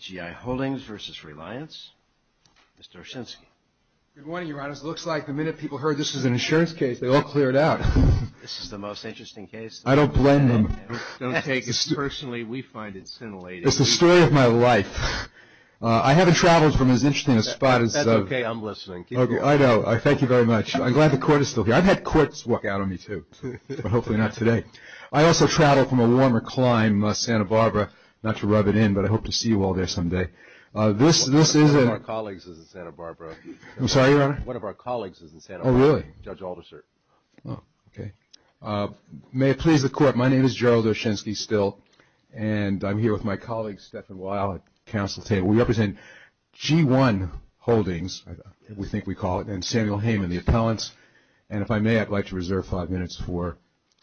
G-IHoldings v. Reliance. Mr. Oshinsky. Good morning, Your Honor. It looks like the minute people heard this was an insurance case, they all cleared out. This is the most interesting case. I don't blend in. Personally, we find it scintillating. It's the story of my life. I haven't traveled from as interesting a spot as... That's okay. I'm listening. Keep going. I know. Thank you very much. I'm glad the Court is still here. I've had courts walk out on me, too, but hopefully not today. I also travel from a warmer clime, Santa Barbara. Not to rub it in, but I hope to see you all there someday. One of our colleagues is in Santa Barbara. I'm sorry, Your Honor? One of our colleagues is in Santa Barbara. Oh, really? Judge Alderser. Oh, okay. May it please the Court, my name is Gerald Oshinsky, still, and I'm here with my colleague, Stephan Weil, at the Council table. We represent G-IHoldings, we think we call it, and Samuel Hayman, the appellant. And if I may, I'd like to reserve five minutes for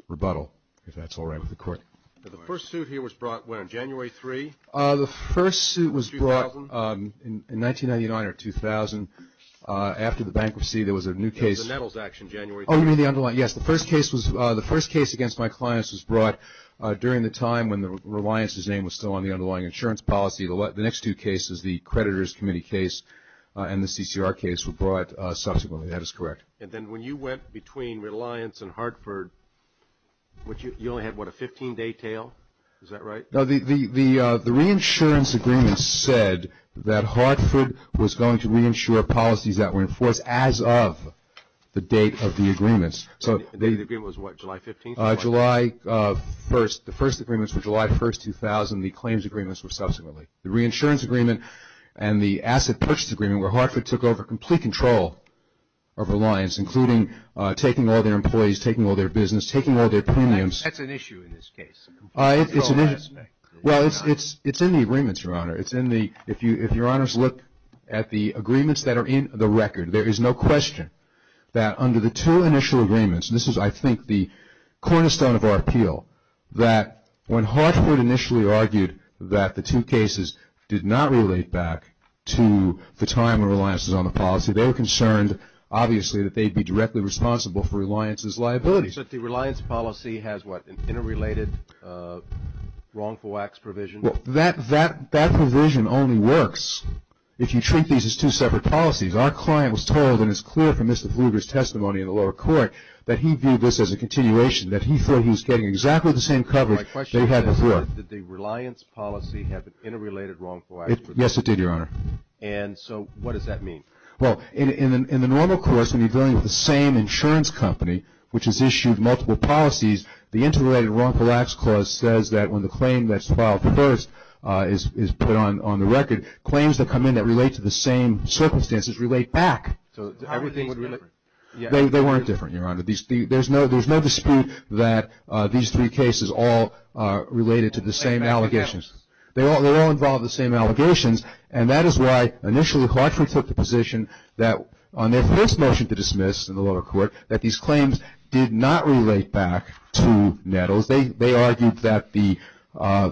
rebuttal, if that's all right with the Court. The first suit here was brought, what, on January 3rd? The first suit was brought in 1999 or 2000. After the bankruptcy, there was a new case. The Nettles action, January 3rd. Oh, you mean the underlying, yes. The first case against my clients was brought during the time when Reliance's name was still on the underlying insurance policy. The next two cases, the Creditors Committee case and the CCR case, were brought subsequently. That is correct. And then when you went between Reliance and Hartford, you only had, what, a 15-day tail? Is that right? No, the reinsurance agreement said that Hartford was going to reinsure policies that were enforced as of the date of the agreements. So the agreement was, what, July 15th? July 1st. The first agreements were July 1st, 2000. The claims agreements were subsequently. The reinsurance agreement and the asset purchase agreement, where Hartford took over complete control of Reliance, including taking all their employees, taking all their business, taking all their premiums. That's an issue in this case. Well, it's in the agreements, Your Honor. If Your Honors look at the agreements that are in the record, there is no question that under the two initial agreements, and this is, I think, the cornerstone of our appeal, that when Hartford initially argued that the two cases did not relate back to the time when Reliance was on the policy, they were concerned, obviously, that they'd be directly responsible for Reliance's liabilities. But the Reliance policy has, what, an interrelated wrongful wax provision? Well, that provision only works if you treat these as two separate policies. Our client was told, and it's clear from Mr. Fluger's testimony in the lower court, that he viewed this as a continuation, that he thought he was getting exactly the same coverage they had before. My question is, did the Reliance policy have an interrelated wrongful wax provision? Yes, it did, Your Honor. And so what does that mean? Well, in the normal course, when you're dealing with the same insurance company, which has issued multiple policies, the interrelated wrongful wax clause says that when the claim that's filed first is put on the record, claims that come in that relate to the same circumstances relate back. So everything's different. They weren't different, Your Honor. There's no dispute that these three cases all related to the same allegations. They all involve the same allegations, and that is why initially Clarkson took the position that on their first motion to dismiss in the lower court, that these claims did not relate back to Nettles. They argued that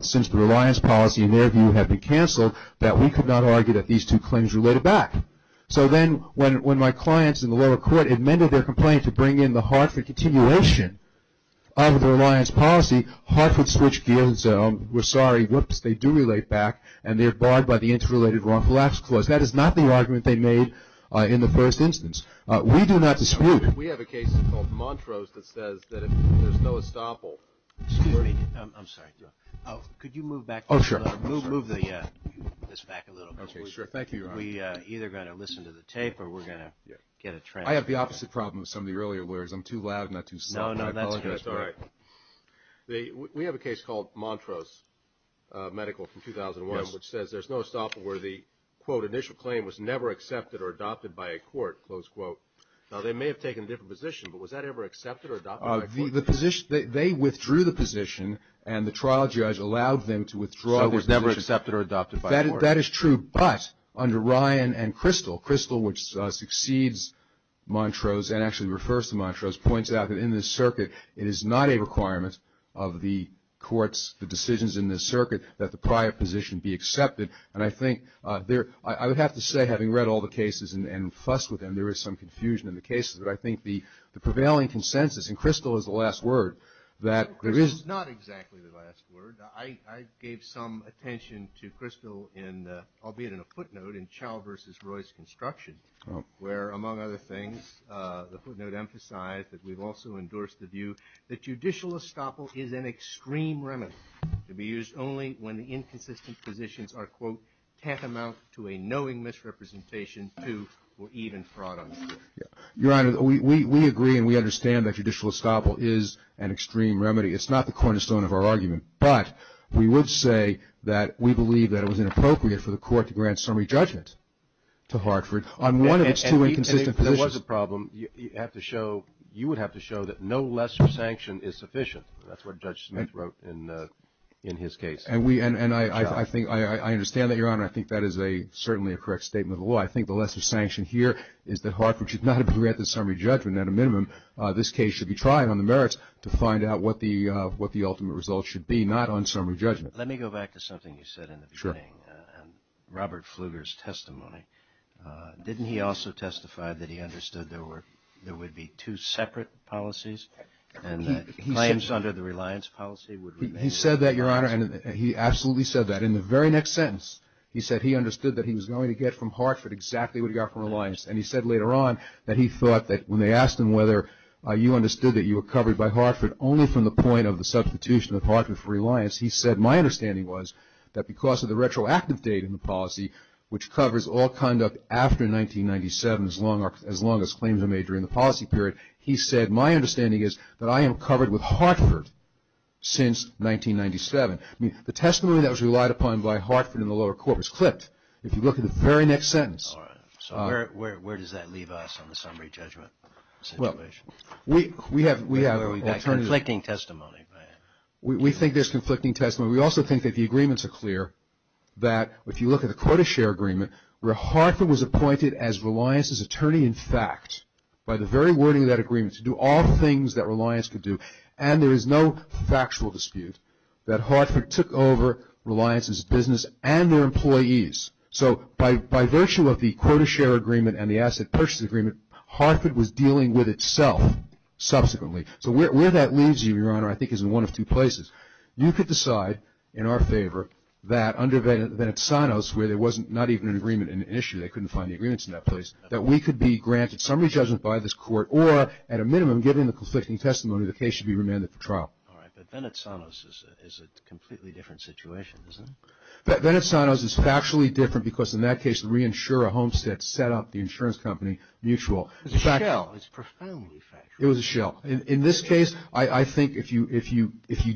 since the Reliance policy, in their view, had been canceled, that we could not argue that these two claims related back. So then when my clients in the lower court amended their complaint to bring in the Hartford continuation of the Reliance policy, Hartford switched gears and said, oh, we're sorry, whoops, they do relate back, and they're barred by the interrelated wrongful wax clause. That is not the argument they made in the first instance. We do not dispute. We have a case called Montrose that says that there's no estoppel. Excuse me. I'm sorry. Could you move back? Oh, sure. Move this back a little bit. Sure, thank you, Your Honor. We're either going to listen to the tape or we're going to get a transcript. I have the opposite problem with some of the earlier words. I'm too loud and not too smart. No, no, that's good. I apologize for that. That's all right. We have a case called Montrose Medical from 2001 which says there's no estoppel where the, quote, initial claim was never accepted or adopted by a court, close quote. Now, they may have taken a different position, but was that ever accepted or adopted by a court? The position, they withdrew the position, and the trial judge allowed them to withdraw the position. So it was never accepted or adopted by a court. That is true. But under Ryan and Crystal, Crystal, which succeeds Montrose and actually refers to Montrose, points out that in this circuit it is not a requirement of the courts, the decisions in this circuit, that the prior position be accepted. And I think I would have to say, having read all the cases and fussed with them, there is some confusion in the cases. But I think the prevailing consensus, and Crystal is the last word, that there is not exactly the last word. I gave some attention to Crystal, albeit in a footnote, in Chau versus Roy's construction, where among other things the footnote emphasized that we've also endorsed the view that judicial estoppel is an extreme remedy to be used only when the inconsistent positions are, quote, tantamount to a knowing misrepresentation to or even fraud on the court. Your Honor, we agree and we understand that judicial estoppel is an extreme remedy. It's not the cornerstone of our argument. But we would say that we believe that it was inappropriate for the court to grant summary judgment to Hartford on one of its two inconsistent positions. There was a problem. You would have to show that no lesser sanction is sufficient. That's what Judge Smith wrote in his case. And I understand that, Your Honor. I think that is certainly a correct statement of the law. I think the lesser sanction here is that Hartford should not have been granted summary judgment. At a minimum, this case should be tried on the merits to find out what the ultimate result should be, not on summary judgment. Let me go back to something you said in the beginning. Sure. Robert Pfluger's testimony. Didn't he also testify that he understood there would be two separate policies and that claims under the Reliance policy would remain? He said that, Your Honor, and he absolutely said that. In the very next sentence, he said he understood that he was going to get from Hartford exactly what he got from Reliance. And he said later on that he thought that when they asked him whether you understood that you were covered by Hartford only from the point of the substitution of Hartford for Reliance, he said my understanding was that because of the retroactive date in the policy, which covers all conduct after 1997 as long as claims are made during the policy period, he said my understanding is that I am covered with Hartford since 1997. The testimony that was relied upon by Hartford in the lower court was clipped. If you look at the very next sentence. All right. So where does that leave us on the summary judgment situation? Well, we have alternative. Conflicting testimony. We think there's conflicting testimony. We also think that the agreements are clear, that if you look at the quota share agreement, where Hartford was appointed as Reliance's attorney in fact by the very wording of that agreement to do all the things that Reliance could do, and there is no factual dispute that Hartford took over Reliance's business and their employees. So by virtue of the quota share agreement and the asset purchase agreement, Hartford was dealing with itself subsequently. So where that leaves you, Your Honor, I think is in one of two places. You could decide in our favor that under Venetzanos, where there wasn't not even an agreement in issue, they couldn't find the agreements in that place, that we could be granted summary judgment by this court or at a minimum given the conflicting testimony the case should be remanded for trial. All right. But Venetzanos is a completely different situation, isn't it? Venetzanos is factually different because in that case, the reinsurer, Homestead, set up the insurance company Mutual. It was a shell. It was profoundly factual. It was a shell. In this case, I think if you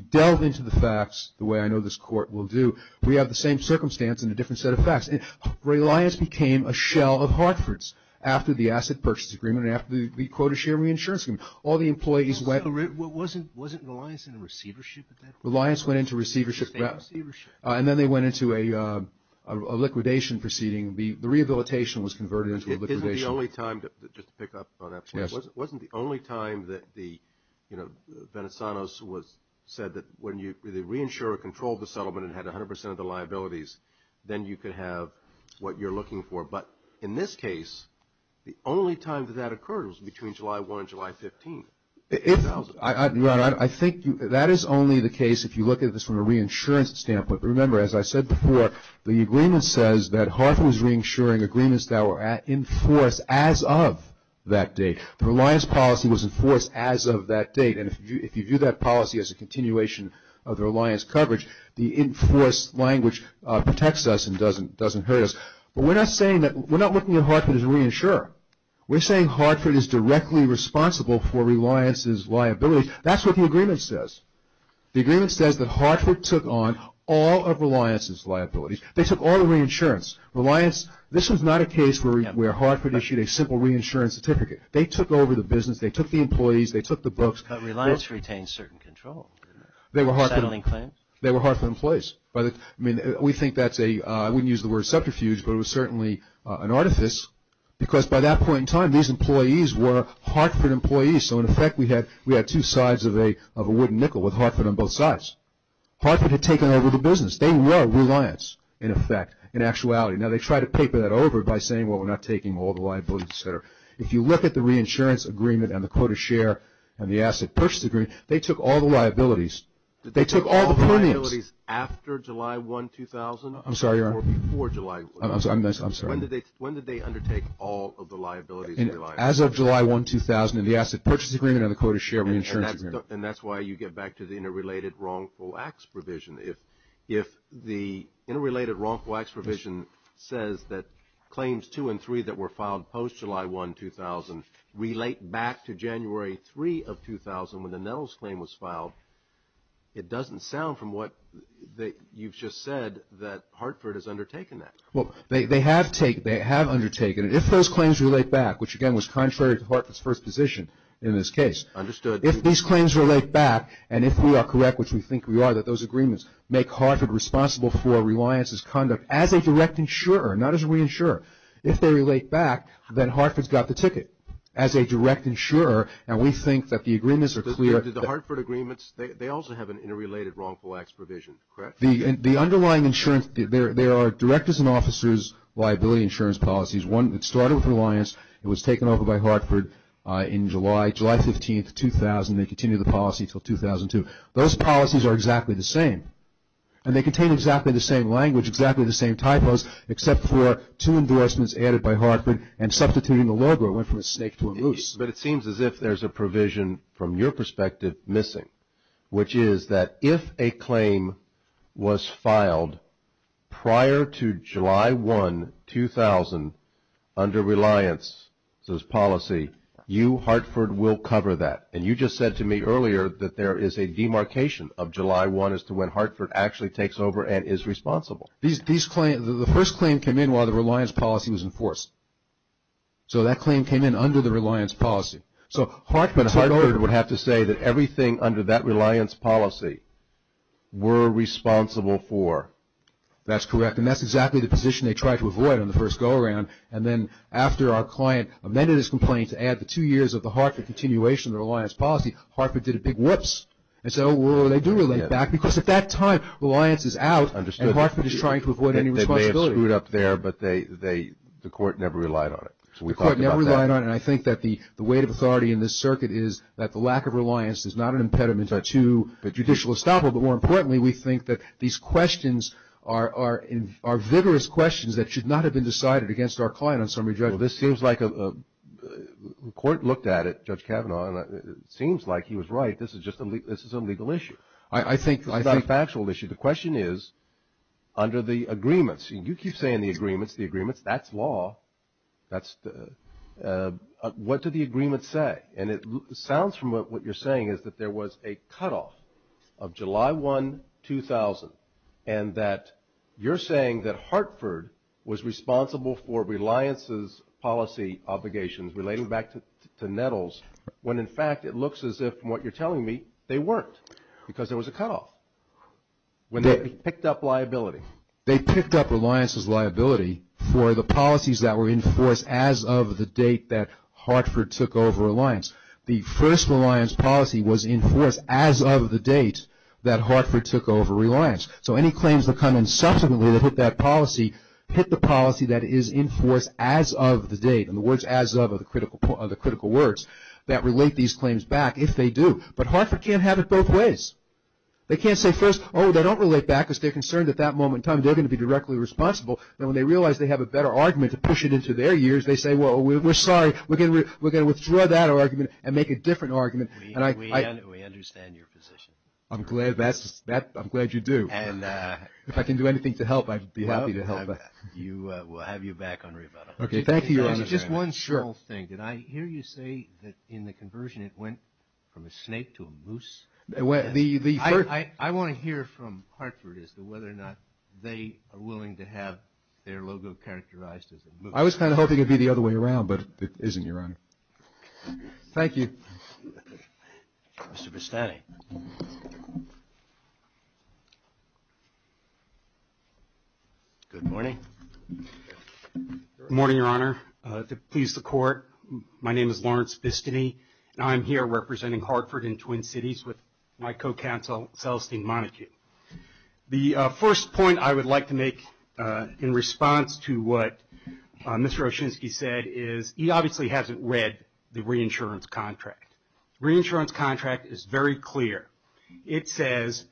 delve into the facts the way I know this court will do, we have the same circumstance and a different set of facts. Reliance became a shell of Hartford's after the asset purchase agreement and after the quota share reinsurance agreement. Wasn't Reliance in a receivership at that point? Reliance went into receivership. And then they went into a liquidation proceeding. The rehabilitation was converted into a liquidation. Isn't the only time, just to pick up on that point, wasn't the only time that the, you know, Venetzanos said that when the reinsurer controlled the settlement and had 100 percent of the liabilities, then you could have what you're looking for. But in this case, the only time that that occurred was between July 1 and July 15. Ron, I think that is only the case if you look at this from a reinsurance standpoint. But remember, as I said before, the agreement says that Hartford was reinsuring agreements that were in force as of that date. The Reliance policy was in force as of that date. And if you view that policy as a continuation of the Reliance coverage, the in force language protects us and doesn't hurt us. But we're not looking at Hartford as a reinsurer. We're saying Hartford is directly responsible for Reliance's liability. That's what the agreement says. The agreement says that Hartford took on all of Reliance's liabilities. They took all the reinsurance. Reliance, this was not a case where Hartford issued a simple reinsurance certificate. They took over the business. They took the employees. They took the books. But Reliance retained certain control. They were Hartford. Settling claims. They were Hartford employees. I mean, we think that's a, I wouldn't use the word subterfuge, but it was certainly an artifice. Because by that point in time, these employees were Hartford employees. So, in effect, we had two sides of a wooden nickel with Hartford on both sides. Hartford had taken over the business. They were Reliance, in effect, in actuality. Now, they tried to paper that over by saying, well, we're not taking all the liabilities, et cetera. If you look at the reinsurance agreement and the quota share and the asset purchase agreement, they took all the liabilities. They took all the premiums. Liabilities after July 1, 2000? I'm sorry, Your Honor. Or before July 1? I'm sorry. When did they undertake all of the liabilities? As of July 1, 2000, in the asset purchase agreement and the quota share reinsurance agreement. And that's why you get back to the interrelated wrongful acts provision. If the interrelated wrongful acts provision says that claims 2 and 3 that were filed post-July 1, 2000, relate back to January 3 of 2000 when the Nettles claim was filed, it doesn't sound from what you've just said that Hartford has undertaken that. Well, they have undertaken it. If those claims relate back, which, again, was contrary to Hartford's first position in this case. Understood. If these claims relate back, and if we are correct, which we think we are, that those agreements make Hartford responsible for Reliance's conduct as a direct insurer, not as a reinsurer. If they relate back, then Hartford's got the ticket as a direct insurer, and we think that the agreements are clear. The Hartford agreements, they also have an interrelated wrongful acts provision, correct? The underlying insurance, there are directors and officers' liability insurance policies. One, it started with Reliance. It was taken over by Hartford in July. July 15, 2000, they continued the policy until 2002. Those policies are exactly the same. And they contain exactly the same language, exactly the same typos, except for two endorsements added by Hartford and substituting the logo. It went from a snake to a moose. But it seems as if there's a provision, from your perspective, missing, which is that if a claim was filed prior to July 1, 2000, under Reliance's policy, you, Hartford, will cover that. And you just said to me earlier that there is a demarcation of July 1 as to when Hartford actually takes over and is responsible. The first claim came in while the Reliance policy was enforced. So that claim came in under the Reliance policy. So Hartford would have to say that everything under that Reliance policy were responsible for. That's correct. And that's exactly the position they tried to avoid on the first go-around. And then after our client amended his complaint to add the two years of the Hartford continuation of the Reliance policy, Hartford did a big whoops. And so they do relate back because at that time Reliance is out and Hartford is trying to avoid any responsibility. They screwed up there, but the court never relied on it. So we thought about that. The court never relied on it. And I think that the weight of authority in this circuit is that the lack of Reliance is not an impediment to judicial estoppel. But more importantly, we think that these questions are vigorous questions that should not have been decided against our client on summary judgment. Well, this seems like a – the court looked at it, Judge Kavanaugh, and it seems like he was right. This is just a – this is a legal issue. I think – This is not a factual issue. The question is under the agreements, and you keep saying the agreements, the agreements. That's law. That's – what do the agreements say? And it sounds from what you're saying is that there was a cutoff of July 1, 2000, and that you're saying that Hartford was responsible for Reliance's policy obligations relating back to Nettles, when in fact it looks as if, from what you're telling me, they weren't, because there was a cutoff. They picked up liability. They picked up Reliance's liability for the policies that were in force as of the date that Hartford took over Reliance. The first Reliance policy was in force as of the date that Hartford took over Reliance. So any claims that come in subsequently that hit that policy hit the policy that is in force as of the date, and the words as of are the critical words that relate these claims back if they do. But Hartford can't have it both ways. They can't say first, oh, they don't relate back because they're concerned at that moment in time they're going to be directly responsible. And when they realize they have a better argument to push it into their ears, they say, well, we're sorry. We're going to withdraw that argument and make a different argument. And I – We understand your position. I'm glad that's – I'm glad you do. And – If I can do anything to help, I'd be happy to help. We'll have you back on rebuttal. Okay, thank you, Your Honor. Just one small thing. Sure. Did I hear you say that in the conversion it went from a snake to a moose? The – I want to hear from Hartford as to whether or not they are willing to have their logo characterized as a moose. I was kind of hoping it would be the other way around, but it isn't, Your Honor. Thank you. Mr. Vestani. Good morning. Good morning, Your Honor. To please the Court, my name is Lawrence Vestani, and I am here representing Hartford and Twin Cities with my co-counsel, Celestine Montague. The first point I would like to make in response to what Mr. Oshinsky said is he obviously hasn't read the reinsurance contract. The reinsurance contract is very clear. It says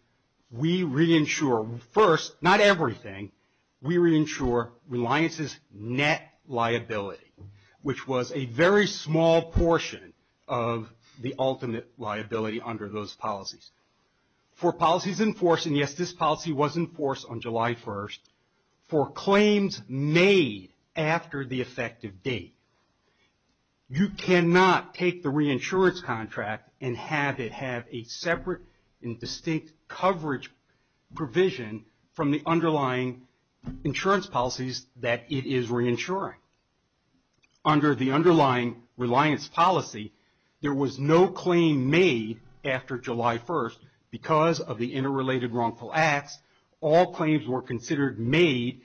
we reinsure first, not everything, we reinsure reliance's net liability, which was a very small portion of the ultimate liability under those policies. For policies in force, and, yes, this policy was in force on July 1st, for claims made after the effective date, you cannot take the reinsurance contract and have it have a separate and distinct coverage provision from the underlying insurance policies that it is reinsuring. Under the underlying reliance policy, there was no claim made after July 1st because of the interrelated wrongful acts. All claims were considered made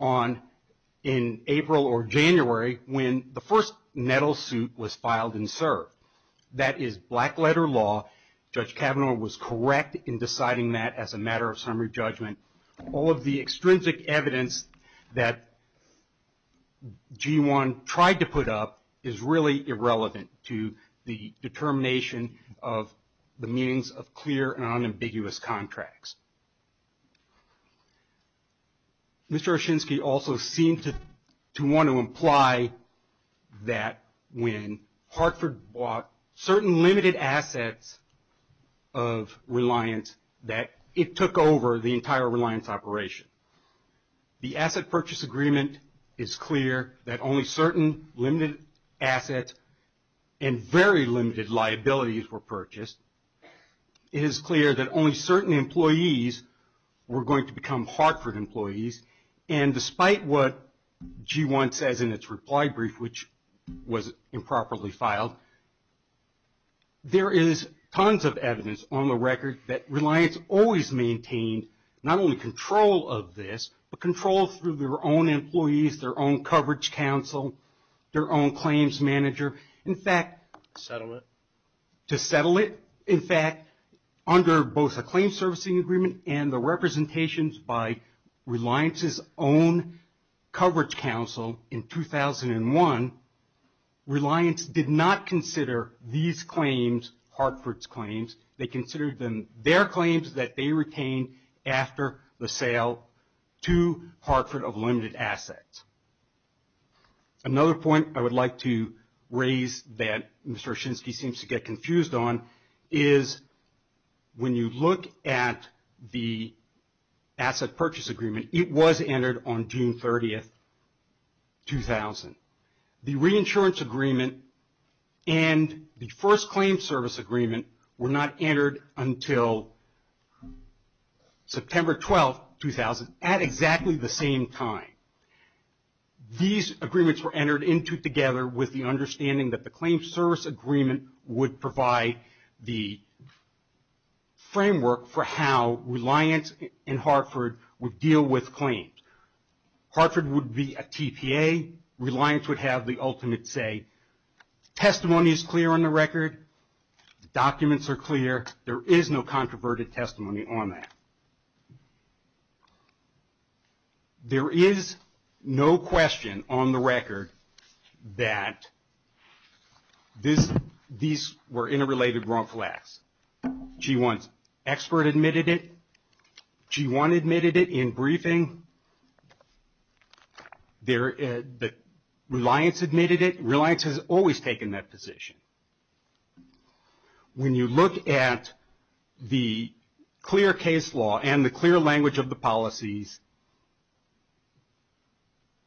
in April or January when the first NETL suit was filed and served. That is black letter law. Judge Kavanaugh was correct in deciding that as a matter of summary judgment. All of the extrinsic evidence that G1 tried to put up is really irrelevant to the determination of the meanings of clear and unambiguous contracts. Mr. Oshinsky also seemed to want to imply that when Hartford bought certain limited assets of reliance, that it took over the entire reliance operation. The asset purchase agreement is clear that only certain limited assets and very limited liabilities were purchased. It is clear that only certain employees were going to become Hartford employees. Despite what G1 says in its reply brief, which was improperly filed, there is tons of evidence on the record that reliance always maintained not only control of this, but control through their own employees, their own coverage counsel, their own claims manager. To settle it. To settle it. In fact, under both a claim servicing agreement and the representations by reliance's own coverage counsel in 2001, reliance did not consider these claims Hartford's claims. They considered them their claims that they retained after the sale to Hartford of limited assets. Another point I would like to raise that Mr. Oshinsky seems to get confused on is when you look at the asset purchase agreement, it was entered on June 30th, 2000. The reinsurance agreement and the first claim service agreement were not entered until September 12th, 2000, at exactly the same time. These agreements were entered into together with the understanding that the claim service agreement would provide the framework for how reliance and Hartford would deal with claims. Hartford would be a TPA. Reliance would have the ultimate say. Testimony is clear on the record. Documents are clear. There is no controverted testimony on that. There is no question on the record that these were interrelated wrongful acts. G1's expert admitted it. G1 admitted it in briefing. Reliance admitted it. Reliance has always taken that position. When you look at the clear case law and the clear language of the policies,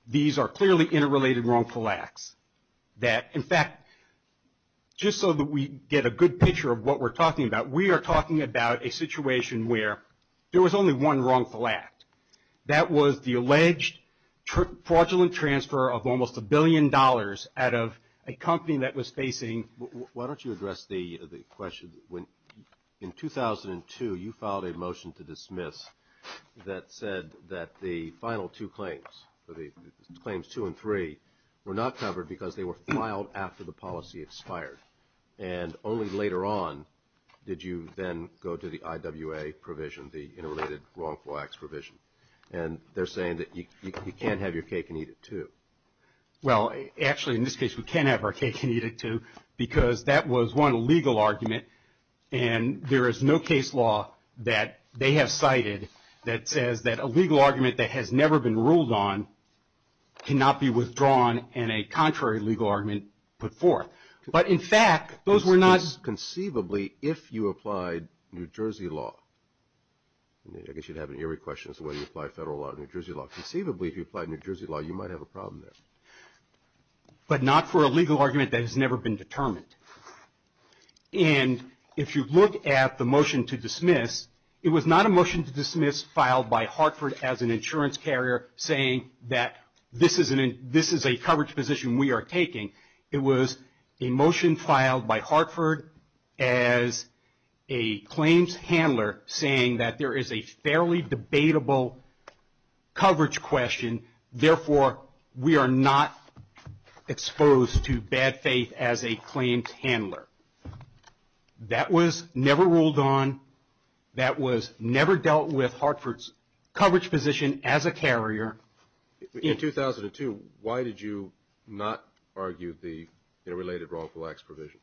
these are clearly interrelated wrongful acts. In fact, just so that we get a good picture of what we're talking about, we are talking about a situation where there was only one wrongful act. That was the alleged fraudulent transfer of almost a billion dollars out of a company that was facing. Why don't you address the question? In 2002, you filed a motion to dismiss that said that the final two claims, claims two and three, were not covered because they were filed after the policy expired. Only later on did you then go to the IWA provision, the interrelated wrongful acts provision. They're saying that you can't have your cake and eat it too. Actually, in this case, we can have our cake and eat it too because that was one legal argument. There is no case law that they have cited that says that a legal argument that has never been ruled on cannot be withdrawn and a contrary legal argument put forth. But, in fact, those were not. Conceivably, if you applied New Jersey law. I guess you'd have an eerie question as to whether you apply federal law or New Jersey law. Conceivably, if you applied New Jersey law, you might have a problem there. But not for a legal argument that has never been determined. And if you look at the motion to dismiss, it was not a motion to dismiss filed by Hartford as an insurance carrier saying that this is a coverage position we are taking. It was a motion filed by Hartford as a claims handler saying that there is a fairly debatable coverage question. Therefore, we are not exposed to bad faith as a claims handler. That was never ruled on. That was never dealt with, Hartford's coverage position as a carrier. In 2002, why did you not argue the interrelated wrongful acts provision?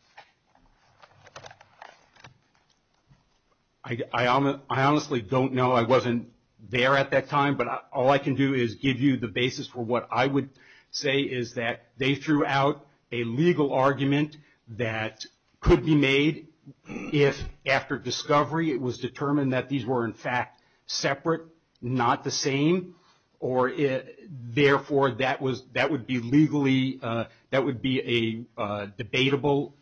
I honestly don't know. I wasn't there at that time. But all I can do is give you the basis for what I would say is that they threw out a legal argument that could be made if, after discovery, it was determined that these were, in fact, separate, not the same. Or, therefore, that would be legally, that would be a debatable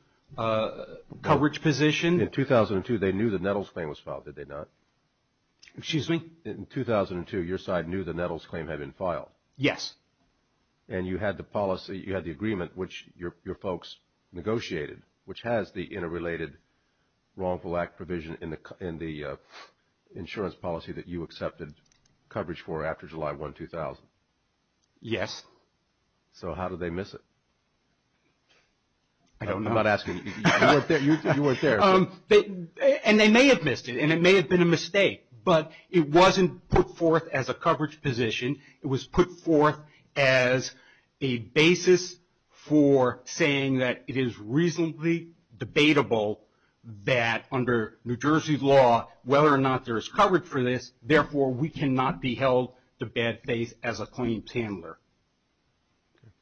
coverage position. In 2002, they knew the Nettles claim was filed, did they not? Excuse me? In 2002, your side knew the Nettles claim had been filed. Yes. And you had the policy, you had the agreement, which your folks negotiated, which has the interrelated wrongful act provision in the insurance policy that you accepted coverage for after July 1, 2000. Yes. So how did they miss it? I don't know. I'm not asking you. You weren't there. And they may have missed it, and it may have been a mistake, but it wasn't put forth as a coverage position. It was put forth as a basis for saying that it is reasonably debatable that, under New Jersey law, whether or not there is coverage for this, therefore, we cannot be held to bad faith as a claims handler. Okay.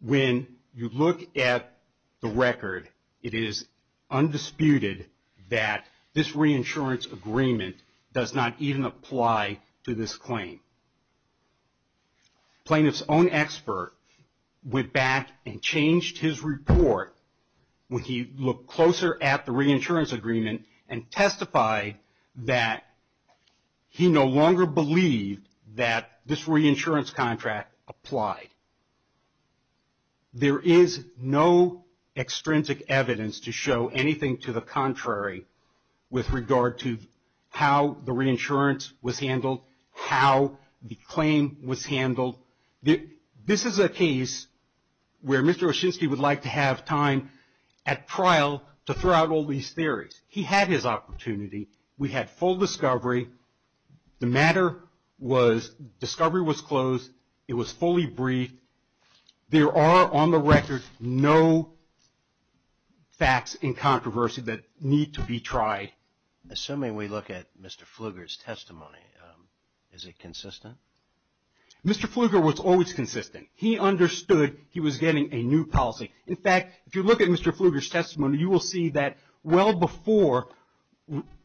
When you look at the record, it is undisputed that this reinsurance agreement does not even apply to this claim. A plaintiff's own expert went back and changed his report when he looked closer at the reinsurance agreement and testified that he no longer believed that this reinsurance contract applied. There is no extrinsic evidence to show anything to the contrary with regard to how the reinsurance was handled, This is a case where Mr. Oshinsky would like to have time at trial to throw out all these theories. He had his opportunity. We had full discovery. The matter was discovery was closed. It was fully briefed. There are, on the record, no facts in controversy that need to be tried. Assuming we look at Mr. Pflugert's testimony, is it consistent? Mr. Pflugert was always consistent. He understood he was getting a new policy. In fact, if you look at Mr. Pflugert's testimony, you will see that well before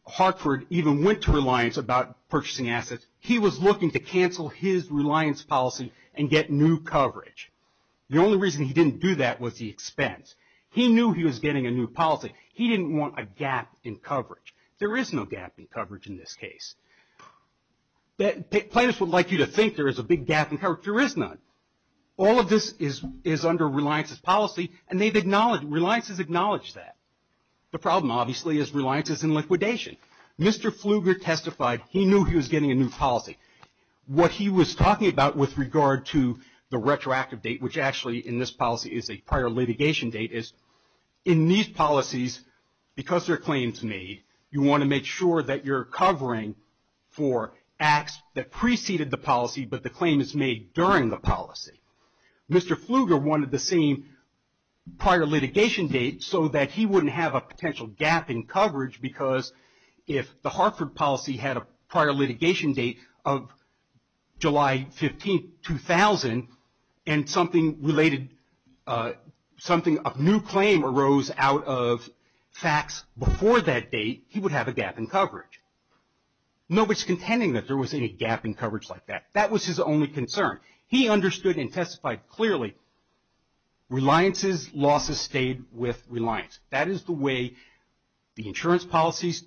Hartford even went to Reliance about purchasing assets, he was looking to cancel his Reliance policy and get new coverage. The only reason he didn't do that was the expense. He knew he was getting a new policy. He didn't want a gap in coverage. There is no gap in coverage in this case. Plaintiffs would like you to think there is a big gap in coverage. There is none. All of this is under Reliance's policy, and Reliance has acknowledged that. The problem, obviously, is Reliance is in liquidation. Mr. Pflugert testified he knew he was getting a new policy. What he was talking about with regard to the retroactive date, which actually in this policy is a prior litigation date, is in these policies, because they're claims made, you want to make sure that you're covering for acts that preceded the policy, but the claim is made during the policy. Mr. Pflugert wanted the same prior litigation date so that he wouldn't have a potential gap in coverage, because if the Hartford policy had a prior litigation date of July 15, 2000, and something of new claim arose out of facts before that date, he would have a gap in coverage. Nobody is contending that there was any gap in coverage like that. That was his only concern. He understood and testified clearly Reliance's losses stayed with Reliance. That is the way the insurance policies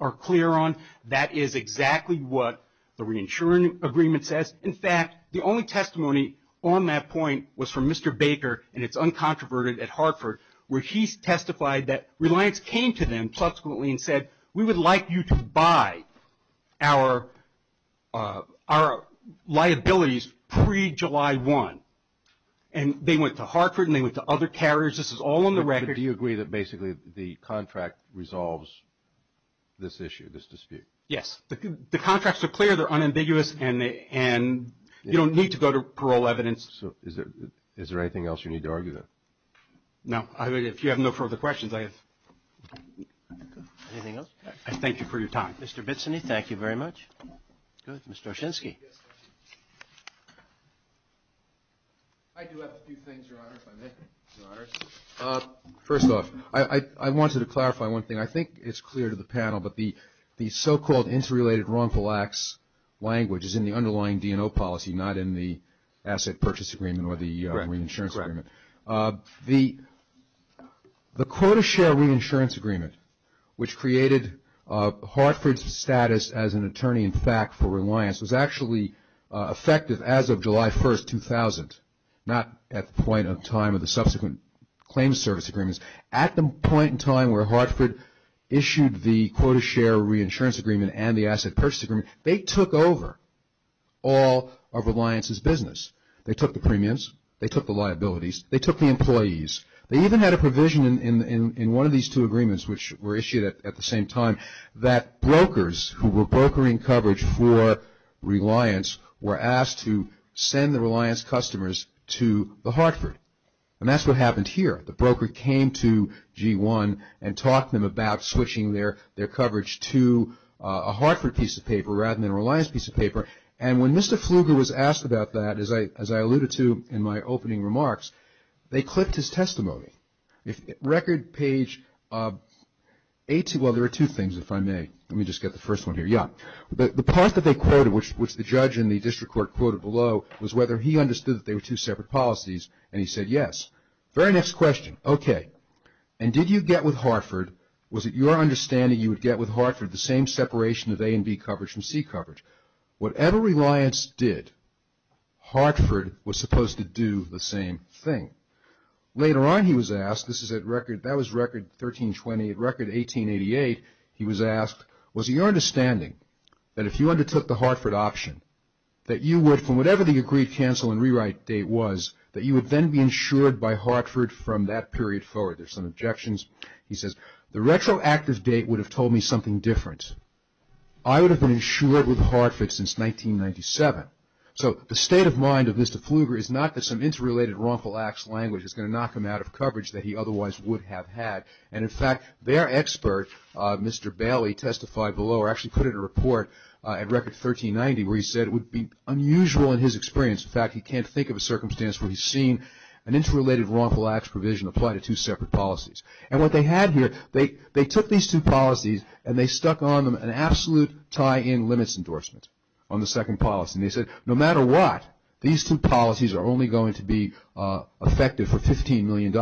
are clear on. That is exactly what the reinsurance agreement says. In fact, the only testimony on that point was from Mr. Baker, and it's uncontroverted, at Hartford, where he testified that Reliance came to them subsequently and said, we would like you to buy our liabilities pre-July 1. And they went to Hartford and they went to other carriers. This is all on the record. Do you agree that basically the contract resolves this issue, this dispute? Yes. The contracts are clear. They're unambiguous, and you don't need to go to parole evidence. So is there anything else you need to argue? No. If you have no further questions, I thank you for your time. Mr. Bitson, thank you very much. Mr. Oshinsky. I do have a few things, Your Honor, if I may. First off, I wanted to clarify one thing. I think it's clear to the panel, but the so-called interrelated wrongful acts language is in the underlying D&O policy, not in the asset purchase agreement or the reinsurance agreement. The quota share reinsurance agreement, which created Hartford's status as an attorney in fact for Reliance, was actually effective as of July 1, 2000, not at the point in time of the subsequent claims service agreements. At the point in time where Hartford issued the quota share reinsurance agreement and the asset purchase agreement, they took over all of Reliance's business. They took the premiums. They took the liabilities. They took the employees. They even had a provision in one of these two agreements, which were issued at the same time, that brokers who were brokering coverage for Reliance were asked to send the Reliance customers to the Hartford. And that's what happened here. The broker came to G1 and talked to them about switching their coverage to a Hartford piece of paper rather than a Reliance piece of paper. And when Mr. Pfluger was asked about that, as I alluded to in my opening remarks, they clipped his testimony. Record page A2, well, there are two things if I may. Let me just get the first one here. Yeah. The part that they quoted, which the judge in the district court quoted below, was whether he understood that they were two separate policies, and he said yes. Very next question. Okay. And did you get with Hartford, was it your understanding you would get with Hartford the same separation of A and B coverage from C coverage? Whatever Reliance did, Hartford was supposed to do the same thing. Later on he was asked, this is at record, that was record 1328, record 1888, he was asked, was it your understanding that if you undertook the Hartford option, that you would, from whatever the agreed cancel and rewrite date was, that you would then be insured by Hartford from that period forward? There's some objections. He says, the retroactive date would have told me something different. I would have been insured with Hartford since 1997. So the state of mind of Mr. Pfluger is not that some interrelated wrongful acts language is going to knock him out of coverage that he otherwise would have had. And, in fact, their expert, Mr. Bailey, testified below, or actually put in a report at record 1390 where he said it would be unusual in his experience. In fact, he can't think of a circumstance where he's seen an interrelated wrongful acts provision applied to two separate policies. And what they had here, they took these two policies and they stuck on them an absolute tie-in limits endorsement on the second policy. And they said, no matter what, these two policies are only going to be effective for $15 million.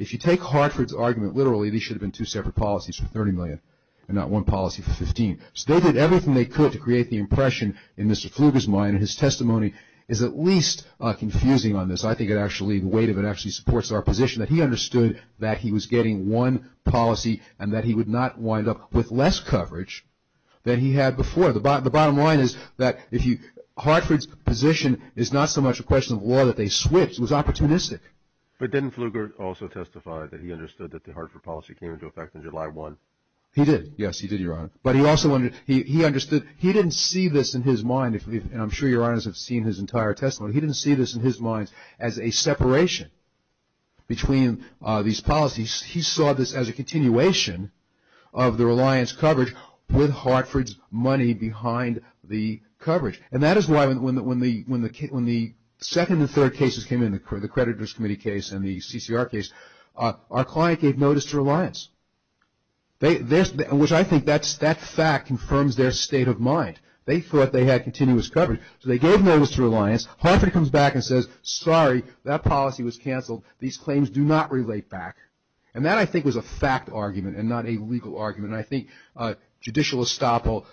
If you take Hartford's argument literally, these should have been two separate policies for $30 million and not one policy for $15 million. So they did everything they could to create the impression in Mr. Pfluger's mind and his testimony is at least confusing on this. I think it actually, the weight of it actually supports our position that he understood that he was getting one policy and that he would not wind up with less coverage than he had before. The bottom line is that Hartford's position is not so much a question of law that they switched. It was opportunistic. But didn't Pfluger also testify that he understood that the Hartford policy came into effect on July 1? He did. Yes, he did, Your Honor. But he also, he understood, he didn't see this in his mind, and I'm sure Your Honors have seen his entire testimony, he didn't see this in his mind as a separation between these policies. He saw this as a continuation of the Reliance coverage with Hartford's money behind the coverage. And that is why when the second and third cases came in, the creditors committee case and the CCR case, our client gave notice to Reliance. Which I think that fact confirms their state of mind. They thought they had continuous coverage. So they gave notice to Reliance. Hartford comes back and says, sorry, that policy was canceled. These claims do not relate back. And that I think was a fact argument and not a legal argument. And I think judicial estoppel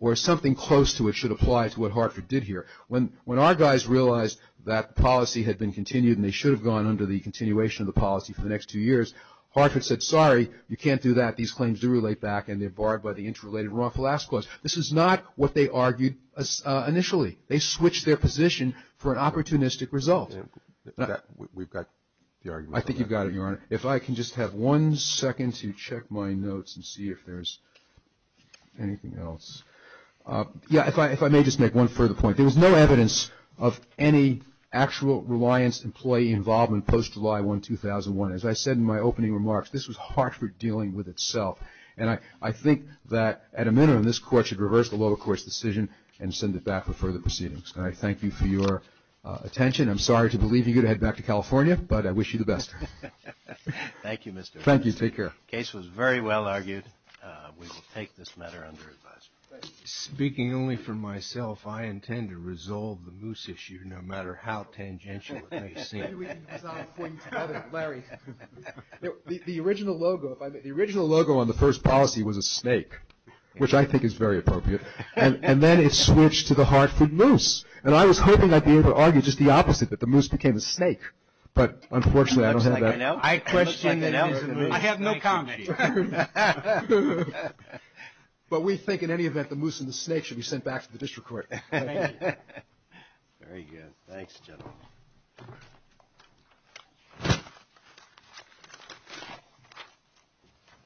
or something close to it should apply to what Hartford did here. When our guys realized that policy had been continued and they should have gone under the continuation of the policy for the next two years, Hartford said, sorry, you can't do that. These claims do relate back and they're barred by the interrelated wrongful ask clause. This is not what they argued initially. They switched their position for an opportunistic result. We've got the argument. I think you've got it, Your Honor. If I can just have one second to check my notes and see if there's anything else. Yeah, if I may just make one further point. There was no evidence of any actual Reliance employee involvement post-July 1, 2001. As I said in my opening remarks, this was Hartford dealing with itself. And I think that at a minimum, this Court should reverse the lower court's decision and send it back for further proceedings. And I thank you for your attention. I'm sorry to believe you're going to head back to California, but I wish you the best. Thank you, Mr. Harris. Thank you. Take care. The case was very well argued. We will take this matter under advisory. Speaking only for myself, I intend to resolve the moose issue no matter how tangential it may seem. The original logo on the first policy was a snake, which I think is very appropriate. And then it switched to the Hartford moose. And I was hoping I'd be able to argue just the opposite, that the moose became a snake. But unfortunately, I don't have that. I have no comment. But we think in any event, the moose and the snake should be sent back to the District Court. Thank you. Very good. Thanks, General.